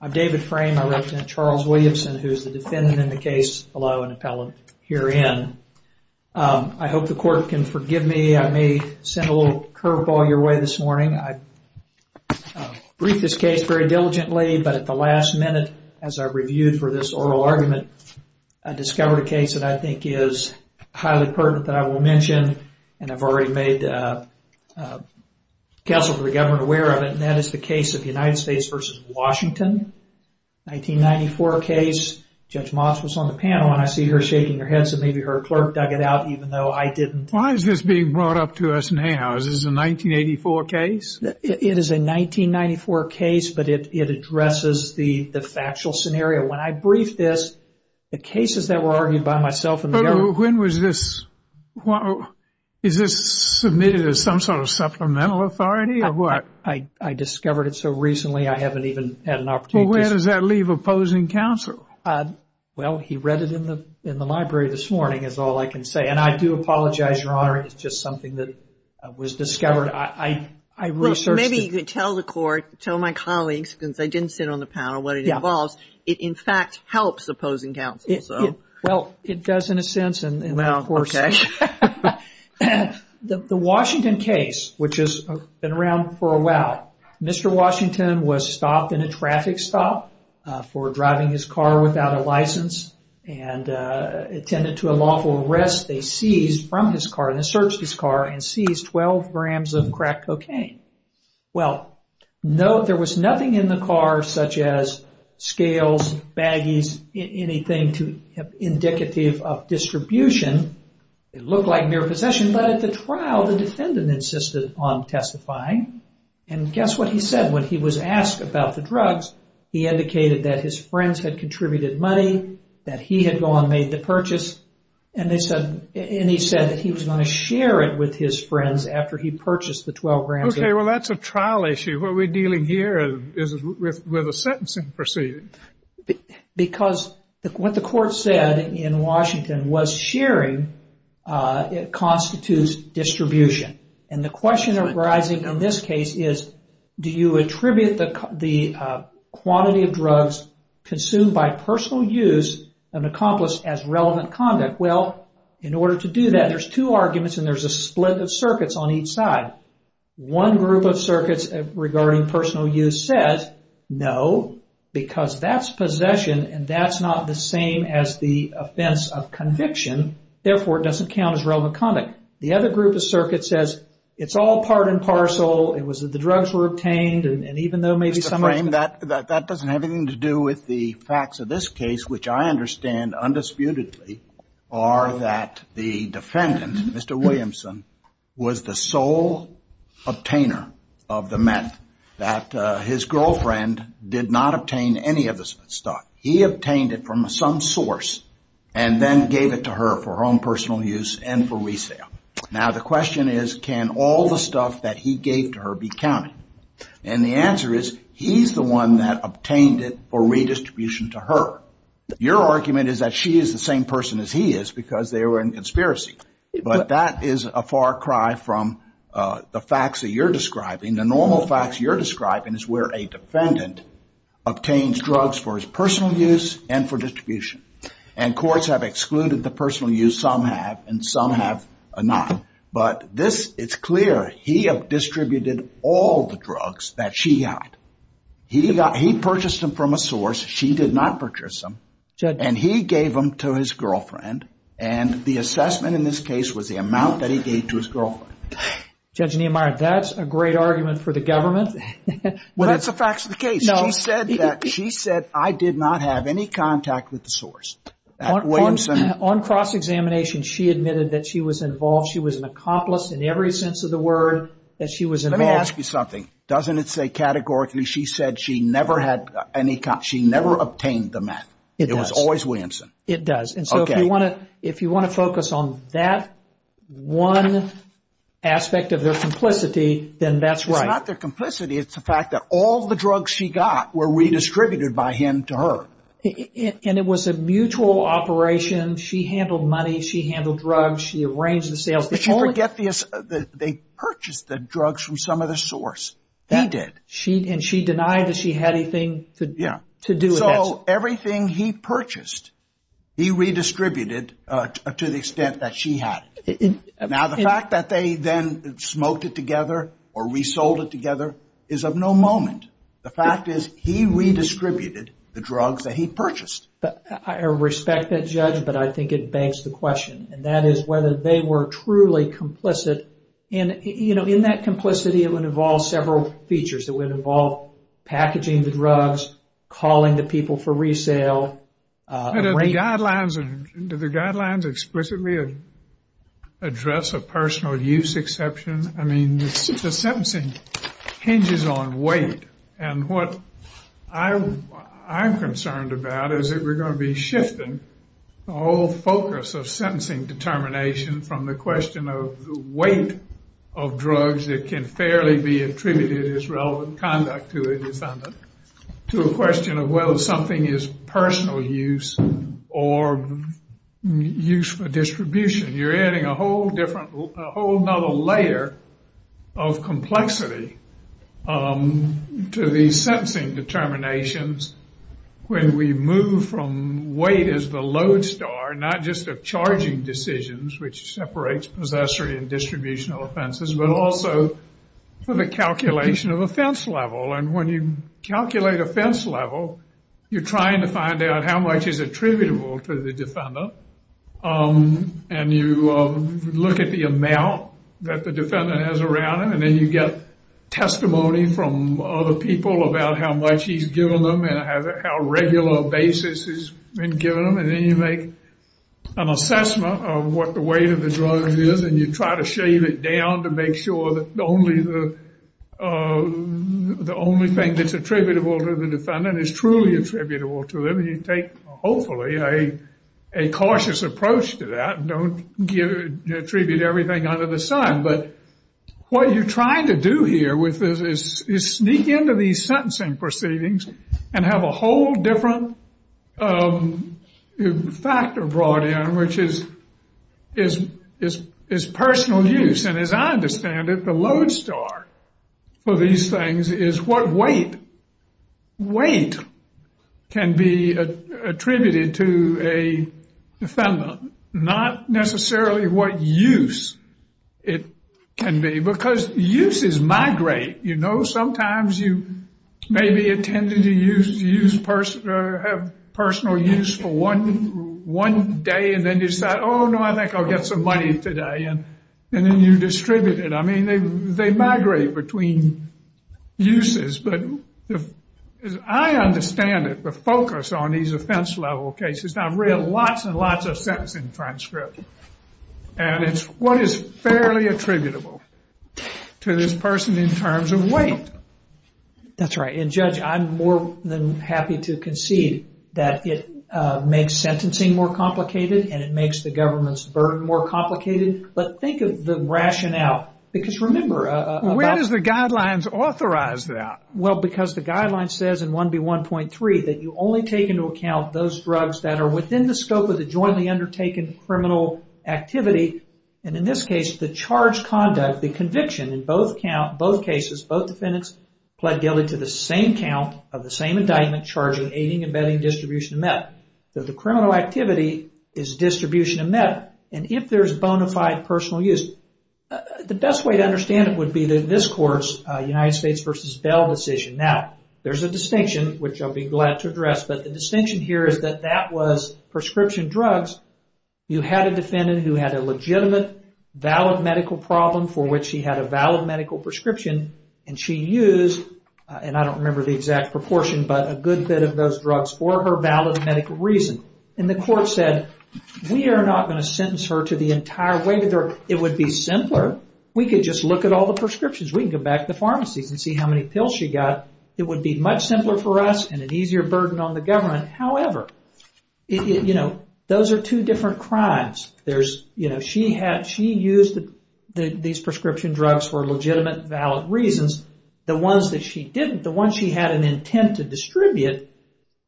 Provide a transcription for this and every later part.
I'm David Frame, I represent Charles Williamson, who is the defendant in the case, allow an appellate herein. I hope the court can forgive me, I may send a little curveball your way this morning. I briefed this case very diligently, but at the last minute, as I reviewed for this oral argument, I discovered a case that I think is highly pertinent that I will mention, and I've already made counsel for the government aware of it, and that is the case of United States v. Washington, 1994 case. Judge Moss was on the panel, and I see her shaking her head, so maybe her clerk dug it out, even though I didn't. Why is this being brought up to us now? Is this a 1984 case? It is a 1994 case, but it addresses the factual scenario. When I briefed this, the cases that were argued by myself and the government... When was this? Is this submitted as some sort of supplemental authority, or what? I discovered it so recently, I haven't even had an opportunity... Well, where does that leave opposing counsel? Well, he read it in the library this morning, is all I can say, and I do apologize, Your Honor, it's just something that was discovered. I researched... Maybe you could tell the court, tell my colleagues, since I didn't sit on the panel, what it involves. It, in fact, helps opposing counsel, so... Well, it does in a sense, and of course... The Washington case, which has been around for a while, Mr. Washington was stopped in a traffic stop for driving his car without a license, and attended to a lawful arrest. They seized from his car, and searched his car, and seized 12 grams of crack cocaine. Well, there was nothing in the car such as scales, baggies, anything indicative of distribution. It looked like mere possession, but at the trial, the defendant insisted on testifying, and guess what he said when he was asked about the drugs? He indicated that his friends had contributed money, that he had gone made the purchase, and they said, and he said that he was going to share it with his friends after he purchased the 12 grams. Okay, well, that's a trial issue. What we're dealing here is with a sentencing proceeding. Because what the court said in Washington was sharing it constitutes distribution, and the question arising in this case is, do you attribute the quantity of drugs consumed by personal use of an accomplice as relevant conduct? Well, in order to do that, there's two arguments, and there's a split of circuits on each side. One group of circuits regarding personal use says, no, because that's possession, and that's not the same as the offense of conviction. Therefore, it doesn't count as relevant conduct. The other group of circuits says, it's all part and parcel. It was that the drugs were obtained, and even though maybe that doesn't have anything to do with the facts of this case, which I understand undisputedly, are that the defendant, Mr. Williamson, was the sole obtainer of the meth, that his girlfriend did not obtain any of the stuff. He obtained it from some source, and then gave it to her for her own personal use and for resale. Now, the question is, can all the stuff that he gave to her be counted? And the answer is, he's the one that obtained it for redistribution to her. Your argument is that she is the same person as he is, because they were in conspiracy. But that is a far cry from the facts that you're describing. The normal facts you're describing is where a defendant obtains drugs for his personal use and for distribution. And courts have excluded the personal use, some have, and some have not. But this, it's clear, he have distributed all the drugs that she got. He purchased them from a source, she did not purchase them, and he gave them to his girlfriend. And the assessment in this case was the amount that he gave to his girlfriend. Judge Nehemiah, that's a great argument for the government. Well, that's the facts of the case. She said that, she said, I did not have any contact with the source. On cross-examination, she admitted that she was involved. She was an accomplice in every sense of the word that she was involved. Let me ask you something. Doesn't it say categorically, she said she never had any, she never obtained the meth. It was always Williamson. It does. And so if you want to, if you want to focus on that one aspect of their complicity, then that's right. It's not their complicity, it's the fact that all the drugs she got were redistributed by him to her. And it was a mutual operation. She handled money, she handled drugs, she arranged the sales. But you forget this, they purchased the drugs from some other source. He did. And she denied that she had anything to do with that. So everything he purchased, he redistributed to the extent that she had. Now, the fact that they then smoked it together or resold it together is of no moment. The fact is he redistributed the drugs that he purchased. But I respect that, Judge, but I think it begs the question. And that is whether they were truly complicit. And, you know, in that complicity, it would involve several features. It would involve packaging the drugs, calling the people for resale. The guidelines explicitly address a personal use exception. I mean, the sentencing hinges on weight. And what I'm concerned about is that we're going to be shifting the whole focus of sentencing determination from the question of the weight of drugs that can fairly be attributed as relevant conduct to a defendant to a question of whether something is personal use or use for distribution. You're adding a whole different, a whole other layer of complexity to the sentencing determinations when we move from weight as the load star, not just of charging decisions, which separates possessory and distributional offenses, but also for the offense level. And when you calculate offense level, you're trying to find out how much is attributable to the defendant. And you look at the amount that the defendant has around him. And then you get testimony from other people about how much he's given them and how regular basis has been given them. And then you make an assessment of what the weight of the drug is. And you try to down to make sure that the only thing that's attributable to the defendant is truly attributable to them. And you take, hopefully, a cautious approach to that. Don't attribute everything under the sun. But what you're trying to do here with this is sneak into these sentencing proceedings and have a whole different factor brought in, which is personal use. And as I understand it, the load star for these things is what weight can be attributed to a defendant, not necessarily what use it can be. Because uses migrate. You know, sometimes you may be intended to have personal use for one day. And then you decide, oh, no, I think I'll get some money today. And then you distribute it. I mean, they migrate between uses. But as I understand it, the focus on these offense level cases, I've read lots and lots of sentencing transcript. And it's what is fairly attributable to this person in terms of weight. That's right. And Judge, I'm more than happy to concede that it makes sentencing more complicated and it makes the government's burden more complicated. But think of the rationale. Because remember, where does the guidelines authorize that? Well, because the that are within the scope of the jointly undertaken criminal activity. And in this case, the charge conduct, the conviction in both count, both cases, both defendants pled guilty to the same count of the same indictment, charging, aiding, abetting, distribution of metal. The criminal activity is distribution of metal. And if there's bona fide personal use, the best way to understand it would be that this court's United States versus Bell decision. Now, there's a distinction, which I'll be glad to address. But the distinction here is that that was prescription drugs. You had a defendant who had a legitimate, valid medical problem for which she had a valid medical prescription. And she used, and I don't remember the exact proportion, but a good bit of those drugs for her valid medical reason. And the court said, we are not going to sentence her to the entire way. It would be simpler. We could just look at all the prescriptions. We can go back to the pharmacies and see how many pills she got. It would be much simpler for us and an easier burden on the government. However, it, you know, those are two different crimes. There's, you know, she had, she used these prescription drugs for legitimate, valid reasons. The ones that she didn't, the ones she had an intent to distribute,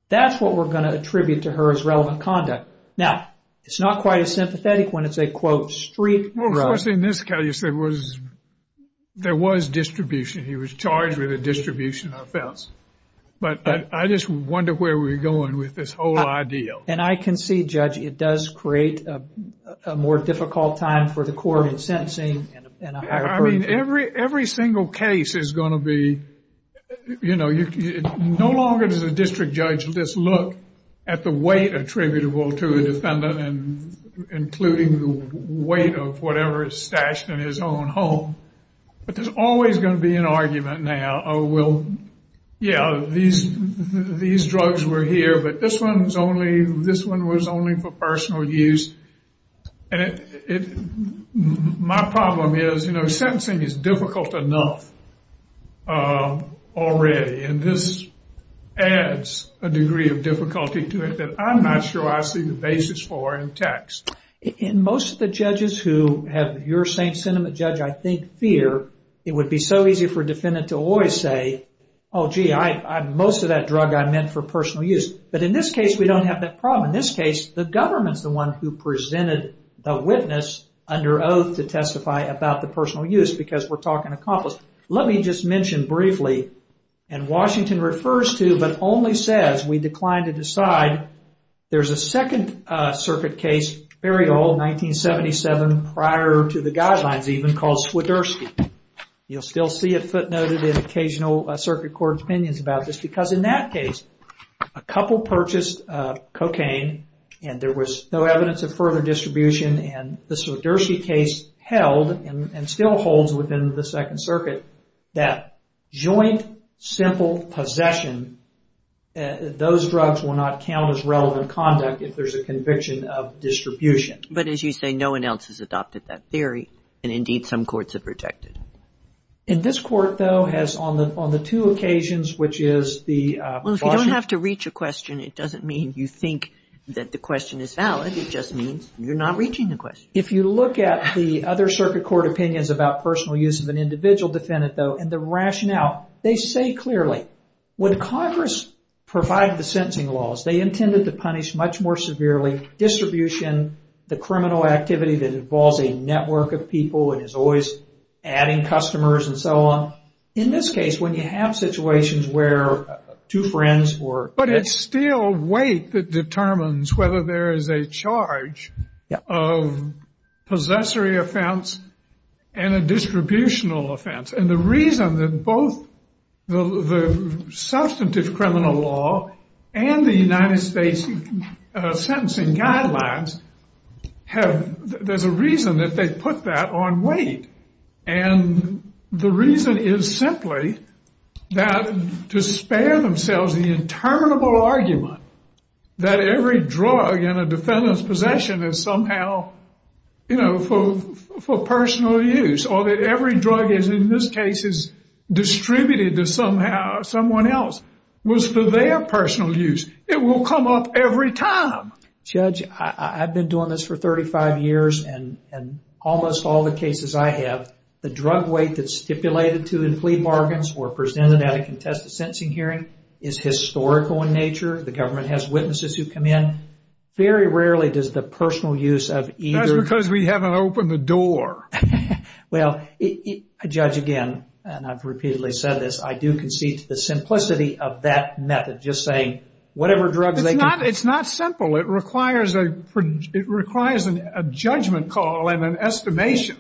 that's what we're going to attribute to her as relevant conduct. Now, it's not quite as sympathetic when it's a, quote, street drug. Well, of course, in this case, there was distribution. He was charged with a distribution offense. But I just wonder where we're going with this whole idea. And I can see, Judge, it does create a more difficult time for the court in sentencing. I mean, every single case is going to be, you know, no longer does a district judge just look at the weight attributable to a defendant and including the weight of whatever is stashed in his own home. But there's always going to be an argument now. Oh, well, yeah, these these drugs were here, but this one's only, this one was only for personal use. And it, my problem is, you know, sentencing is difficult enough already. And this adds a degree of difficulty to it that I'm not sure I see the basis for in text. In most of the judges who have your same sentiment, Judge, I think fear, it would be so easy for a defendant to always say, oh, gee, I, most of that drug I meant for personal use. But in this case, we don't have that problem. In this case, the government's the one who presented the witness under oath to testify about the personal use because we're talking accomplice. Let me just mention briefly, and Washington refers to, but only says, we declined to decide. There's a second circuit case, very old, 1977 prior to the guidelines even, called Swiderski. You'll still see it footnoted in occasional circuit court opinions about this, because in that case, a couple purchased cocaine and there was no evidence of further distribution. And the Swiderski case held, and still holds within the second circuit, that joint simple possession, those drugs will not count as relevant conduct if there's a conviction of distribution. But as you say, no one else has adopted that theory. And indeed, some courts have rejected. And this court, though, has on the two occasions, which is the... Well, if you don't have to reach a question, it doesn't mean you think that the question is valid. It just means you're not reaching the question. If you look at the other circuit court opinions about personal use of an individual defendant, though, and the rationale, they say clearly, when Congress provided the sentencing laws, they intended to punish much more severely distribution, the criminal activity that involves a network of people and is always adding customers and so on. In this case, when you have situations where two friends or... Whether there is a charge of possessory offense, and a distributional offense. And the reason that both the substantive criminal law and the United States sentencing guidelines have... There's a reason that they put that on weight. And the reason is simply that to spare themselves the interminable argument that every drug in a defendant's possession is somehow, you know, for personal use. Or that every drug is, in this case, is distributed to somehow someone else was for their personal use. It will come up every time. Judge, I've been doing this for 35 years. And almost all the cases I have, the drug weight that's stipulated to in plea bargains or presented at a contested sentencing hearing is historical in nature. The government has witnesses who come in. Very rarely does the personal use of either... That's because we haven't opened the door. Well, Judge, again, and I've repeatedly said this, I do concede to the simplicity of that method, just saying whatever drugs they can... It's not simple. It requires a judgment call and an estimation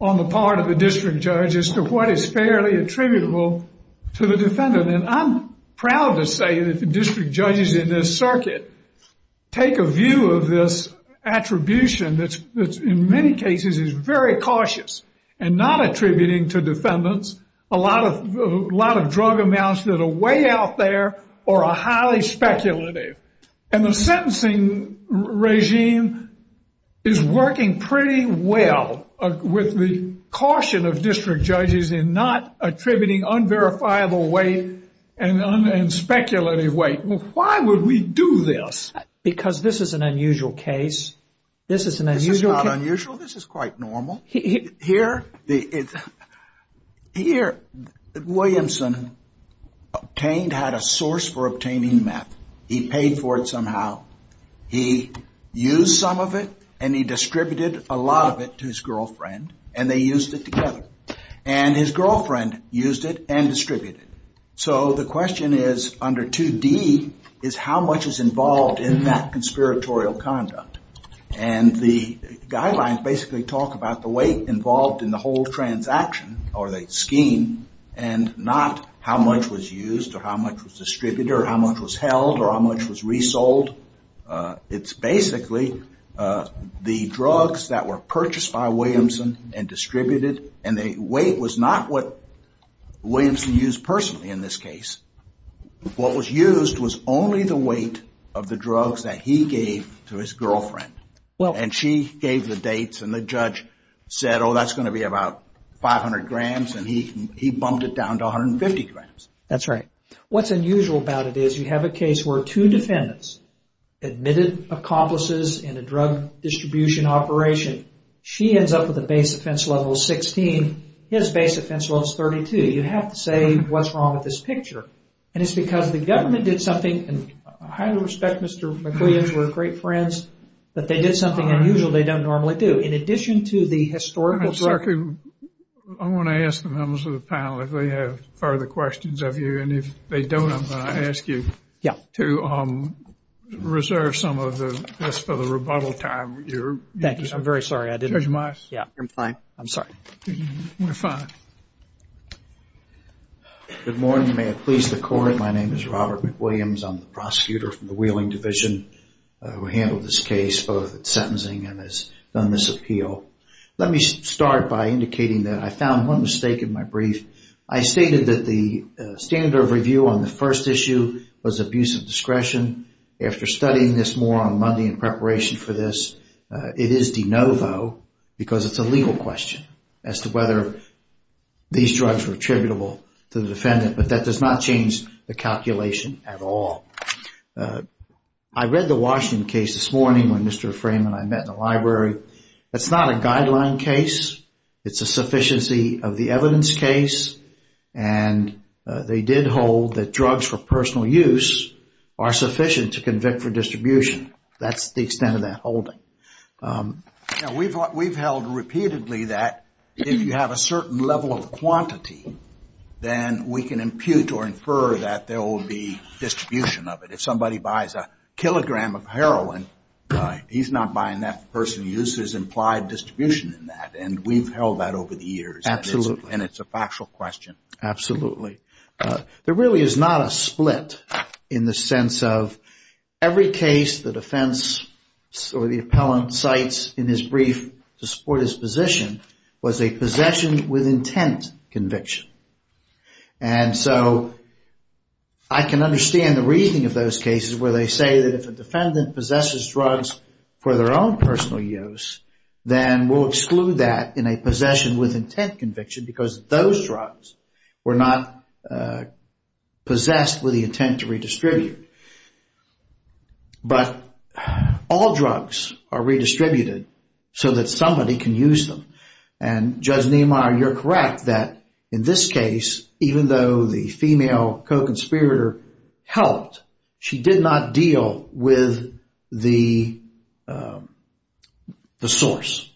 on the part of the district judge as to what is fairly attributable to the defendant. And I'm proud to say that the district judges in this circuit take a view of this attribution that's in many cases is very cautious and not attributing to defendants a lot of drug amounts that are way out there or are highly speculative. And the sentencing regime is working pretty well with the caution of district judges in not attributing unverifiable weight and speculative weight. Well, why would we do this? Because this is an unusual case. This is an unusual case. This is not unusual. This is quite normal. Here, Williamson had a source for obtaining meth. He paid for it somehow. He used some of it and he distributed a lot of it to his girlfriend and they used it together. And his girlfriend used it and distributed it. So the question is, under 2D, is how much is involved in that conspiratorial conduct? And the guidelines basically talk about the weight involved in the whole transaction or the scheme and not how much was used or how much was distributed or how much was held or how much was resold. It's basically the drugs that were purchased by Williamson and distributed and the weight was not what Williamson used personally in this case. What was used was only the weight of the drugs that he gave to his girlfriend. And she gave the dates and the judge said, oh, that's going to be about 500 grams and he bumped it down to 150 grams. That's right. What's unusual about it is you have a case where two defendants, admitted accomplices in a drug distribution operation, she ends up with a base offense level 16, his base offense level is 32. You have to say what's wrong with this picture. And it's because the government did something and I highly respect Mr. McWilliams, we're great friends, that they did something unusual they don't normally do. In addition to the historical... I want to ask the members of the panel if they have further questions of you. And if they don't, I'm going to ask you to reserve some of this for the rebuttal time. Thank you. I'm very sorry. Judge Meis? Yeah, I'm fine. I'm sorry. We're fine. Good morning. May it please the court. My name is Robert McWilliams. I'm the prosecutor from the Wheeling division who handled this case, both sentencing and has done this appeal. Let me start by indicating that I found one mistake in my brief. I stated that the standard of review on the first issue was abuse of discretion. After studying this more on Monday in preparation for this, it is de novo because it's a legal question as to whether these drugs were attributable to the defendant. But that does not change the calculation at all. I read the Washington case this morning when Mr. Fraiman and I met in the library. It's not a guideline case. It's a sufficiency of the evidence case. And they did hold that drugs for personal use are sufficient to convict for distribution. That's the extent of that holding. Then we can impute or infer that there will be distribution of it. If somebody buys a kilogram of heroin, he's not buying that person uses implied distribution in that. And we've held that over the years. Absolutely. And it's a factual question. Absolutely. There really is not a split in the sense of every case the defense or the appellant cites in his brief to support his position was a possession with intent conviction. And so I can understand the reasoning of those cases where they say that if a defendant possesses drugs for their own personal use, then we'll exclude that in a possession with intent conviction because those drugs were not possessed with the intent to redistribute. But all drugs are redistributed so that somebody can use them. And Judge Niemeyer, you're correct that in this case, even though the female co-conspirator helped, she did not deal with the source.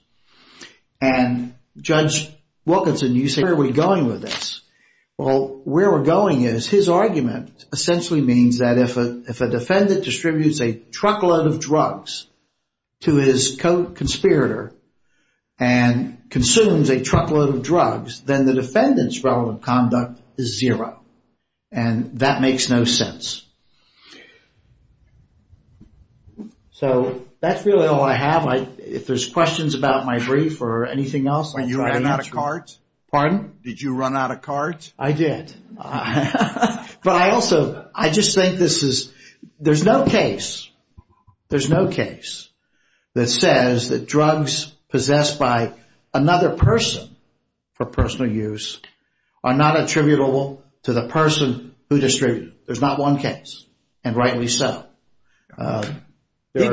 And Judge Wilkinson, you say, where are we going with this? Well, where we're going is his argument essentially means that if a defendant distributes a truckload of drugs to his co-conspirator and consumes a truckload of drugs, then the defendant's relative conduct is zero. And that makes no sense. So that's really all I have. If there's questions about my brief or anything else... When you ran out of cards? Pardon? Did you run out of cards? I did. But I also, I just think this is, there's no case, there's no case that says that drugs possessed by another person for personal use are not attributable to the person who distributed. There's not one case. And rightly so. He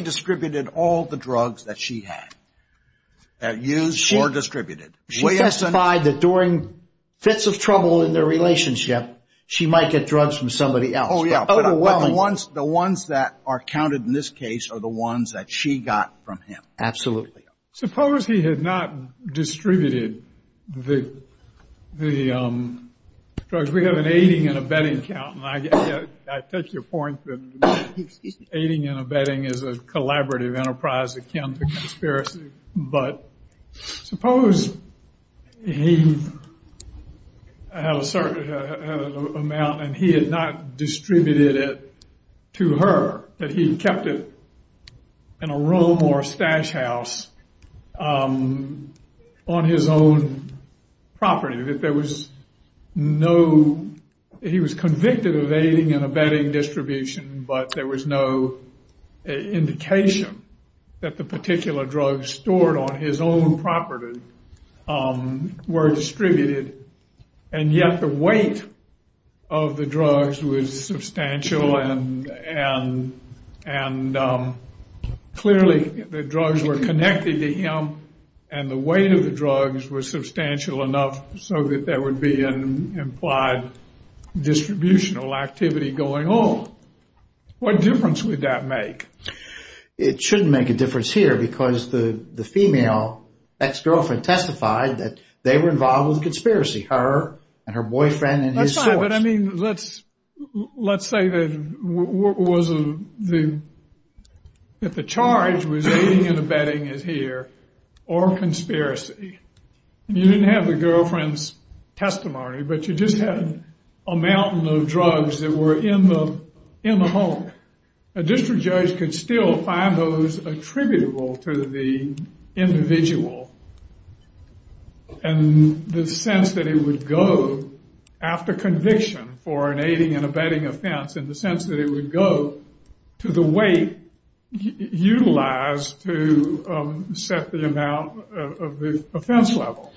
distributed all the drugs that she had, used or distributed. She testified that during fits of trouble in their relationship, she might get drugs from somebody else. But the ones that are counted in this case are the ones that she got from him. Absolutely. Suppose he had not distributed the drugs. We have an aiding and abetting count. I take your point that aiding and abetting is a collaborative enterprise akin to conspiracy. But suppose he had a certain amount and he had not distributed it to her, that he kept it in a room or a stash house on his own property. If there was no, he was convicted of aiding and abetting distribution, but there was no indication that the particular drugs stored on his own property were distributed. And yet the weight of the drugs was substantial and clearly the drugs were connected to him. And the weight of the drugs was substantial enough so that there would be an implied distributional activity going on. What difference would that make? It shouldn't make a difference here because the female ex-girlfriend testified that they were involved with a conspiracy, her and her boyfriend and his source. But I mean, let's say that the charge was aiding and abetting is here or conspiracy. You didn't have the girlfriend's testimony, but you just had a mountain of drugs that were in the home. A district judge could still find those attributable to the individual and the sense that it would go after conviction for an aiding and abetting offense in the sense that it would go to the weight utilized to set the amount of the offense level.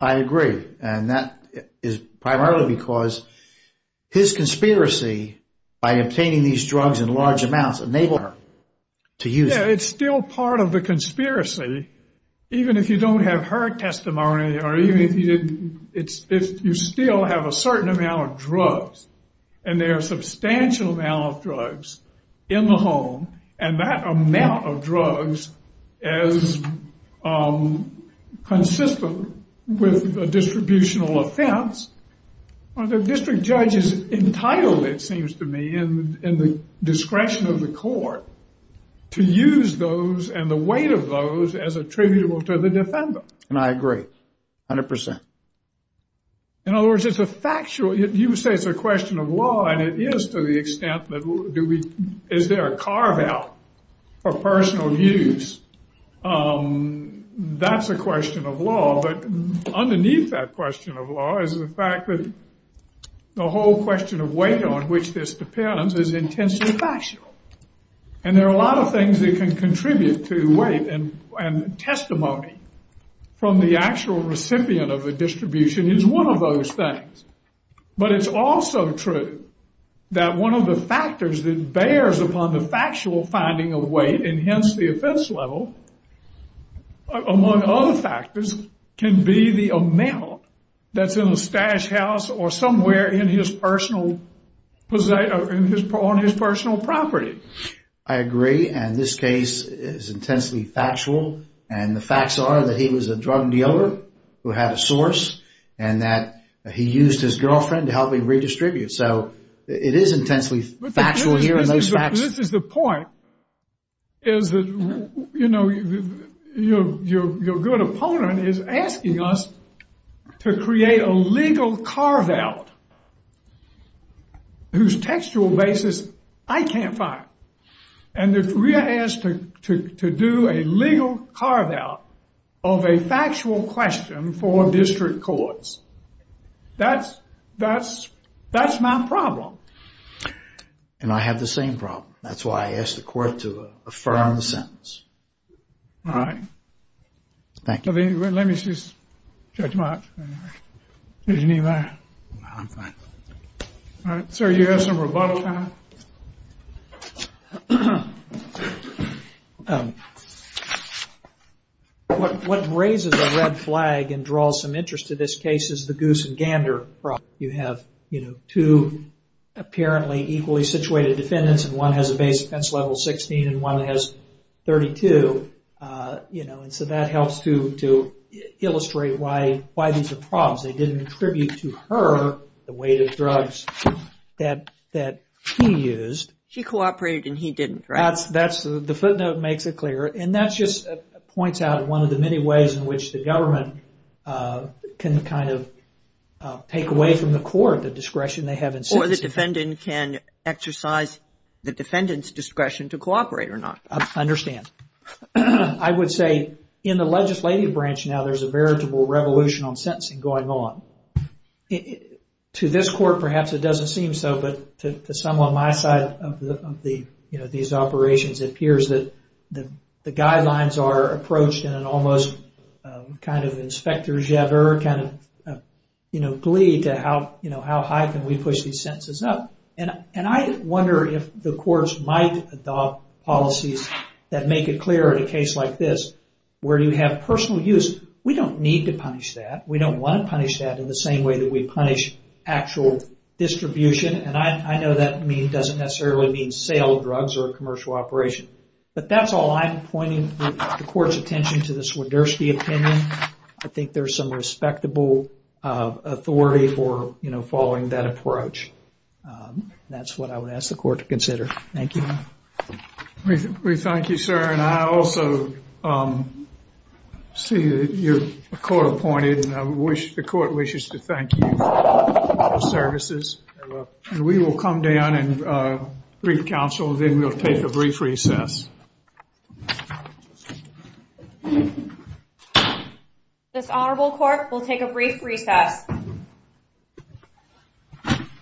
I agree. And that is primarily because his conspiracy by obtaining these drugs in large amounts enabled her to use it. It's still part of the conspiracy, even if you don't have her testimony or even if you didn't. It's if you still have a certain amount of drugs and there are a substantial amount of drugs in the home. And that amount of drugs is consistent with a distributional offense. The district judge is entitled, it seems to me, in the discretion of the court to use those and the weight of those as attributable to the defender. And I agree 100 percent. In other words, it's a factual, you say it's a question of law, and it is to the extent that do we, is there a carve out for personal use? That's a question of law. But underneath that question of law is the fact that the whole question of weight on which this depends is intensely factual. And there are a lot of things that can contribute to weight and testimony from the actual recipient of the distribution is one of those things. But it's also true that one of the factors that bears upon the factual finding of weight, and hence the offense level, among other factors, can be the amount that's in a stash house or somewhere in his personal, on his personal property. I agree. And this case is intensely factual. And the facts are that he was a drug dealer who had a source and that he used his girlfriend to help him redistribute. So it is intensely factual here in those facts. But this is the point. Is that, you know, your good opponent is asking us to create a legal carve out whose textual basis I can't find. And if we are asked to do a legal carve out of a factual question for district courts, that's, that's, that's my problem. And I have the same problem. That's why I asked the court to affirm the sentence. All right. Thank you. Let me see Judge Marks. Did you need my? No, I'm fine. All right. Sir, you have some rebuttal time. All right. What raises a red flag and draws some interest to this case is the Goose and Gander problem. You have, you know, two apparently equally situated defendants, and one has a base offense level 16 and one has 32. You know, and so that helps to illustrate why, why these are problems. They didn't attribute to her the weight of drugs that, that she used. She cooperated and he didn't, right? That's, that's the footnote makes it clear. And that's just points out one of the many ways in which the government can kind of take away from the court the discretion they have in sentencing. Or the defendant can exercise the defendant's discretion to cooperate or not. I understand. I would say in the legislative branch now, there's a veritable revolution on sentencing going on. To this court, perhaps it doesn't seem so. But to some on my side of the, you know, these operations, it appears that the, the guidelines are approached in an almost kind of inspecteur, kind of, you know, glee to how, you know, how high can we push these sentences up? And, and I wonder if the courts might adopt policies that make it clear in a case like this, where you have personal use, we don't need to punish that. We don't want to punish that in the same way that we punish actual distribution. And I, I know that doesn't necessarily mean sale of drugs or a commercial operation. But that's all I'm pointing the court's attention to the Swiderski opinion. I think there's some respectable authority for, you know, following that approach. That's what I would ask the court to consider. Thank you. We thank you, sir. And I also see that you're co-appointed and I wish, the court wishes to thank you for the services. And we will come down and brief counsel. Then we'll take a brief recess. This honorable court will take a brief recess.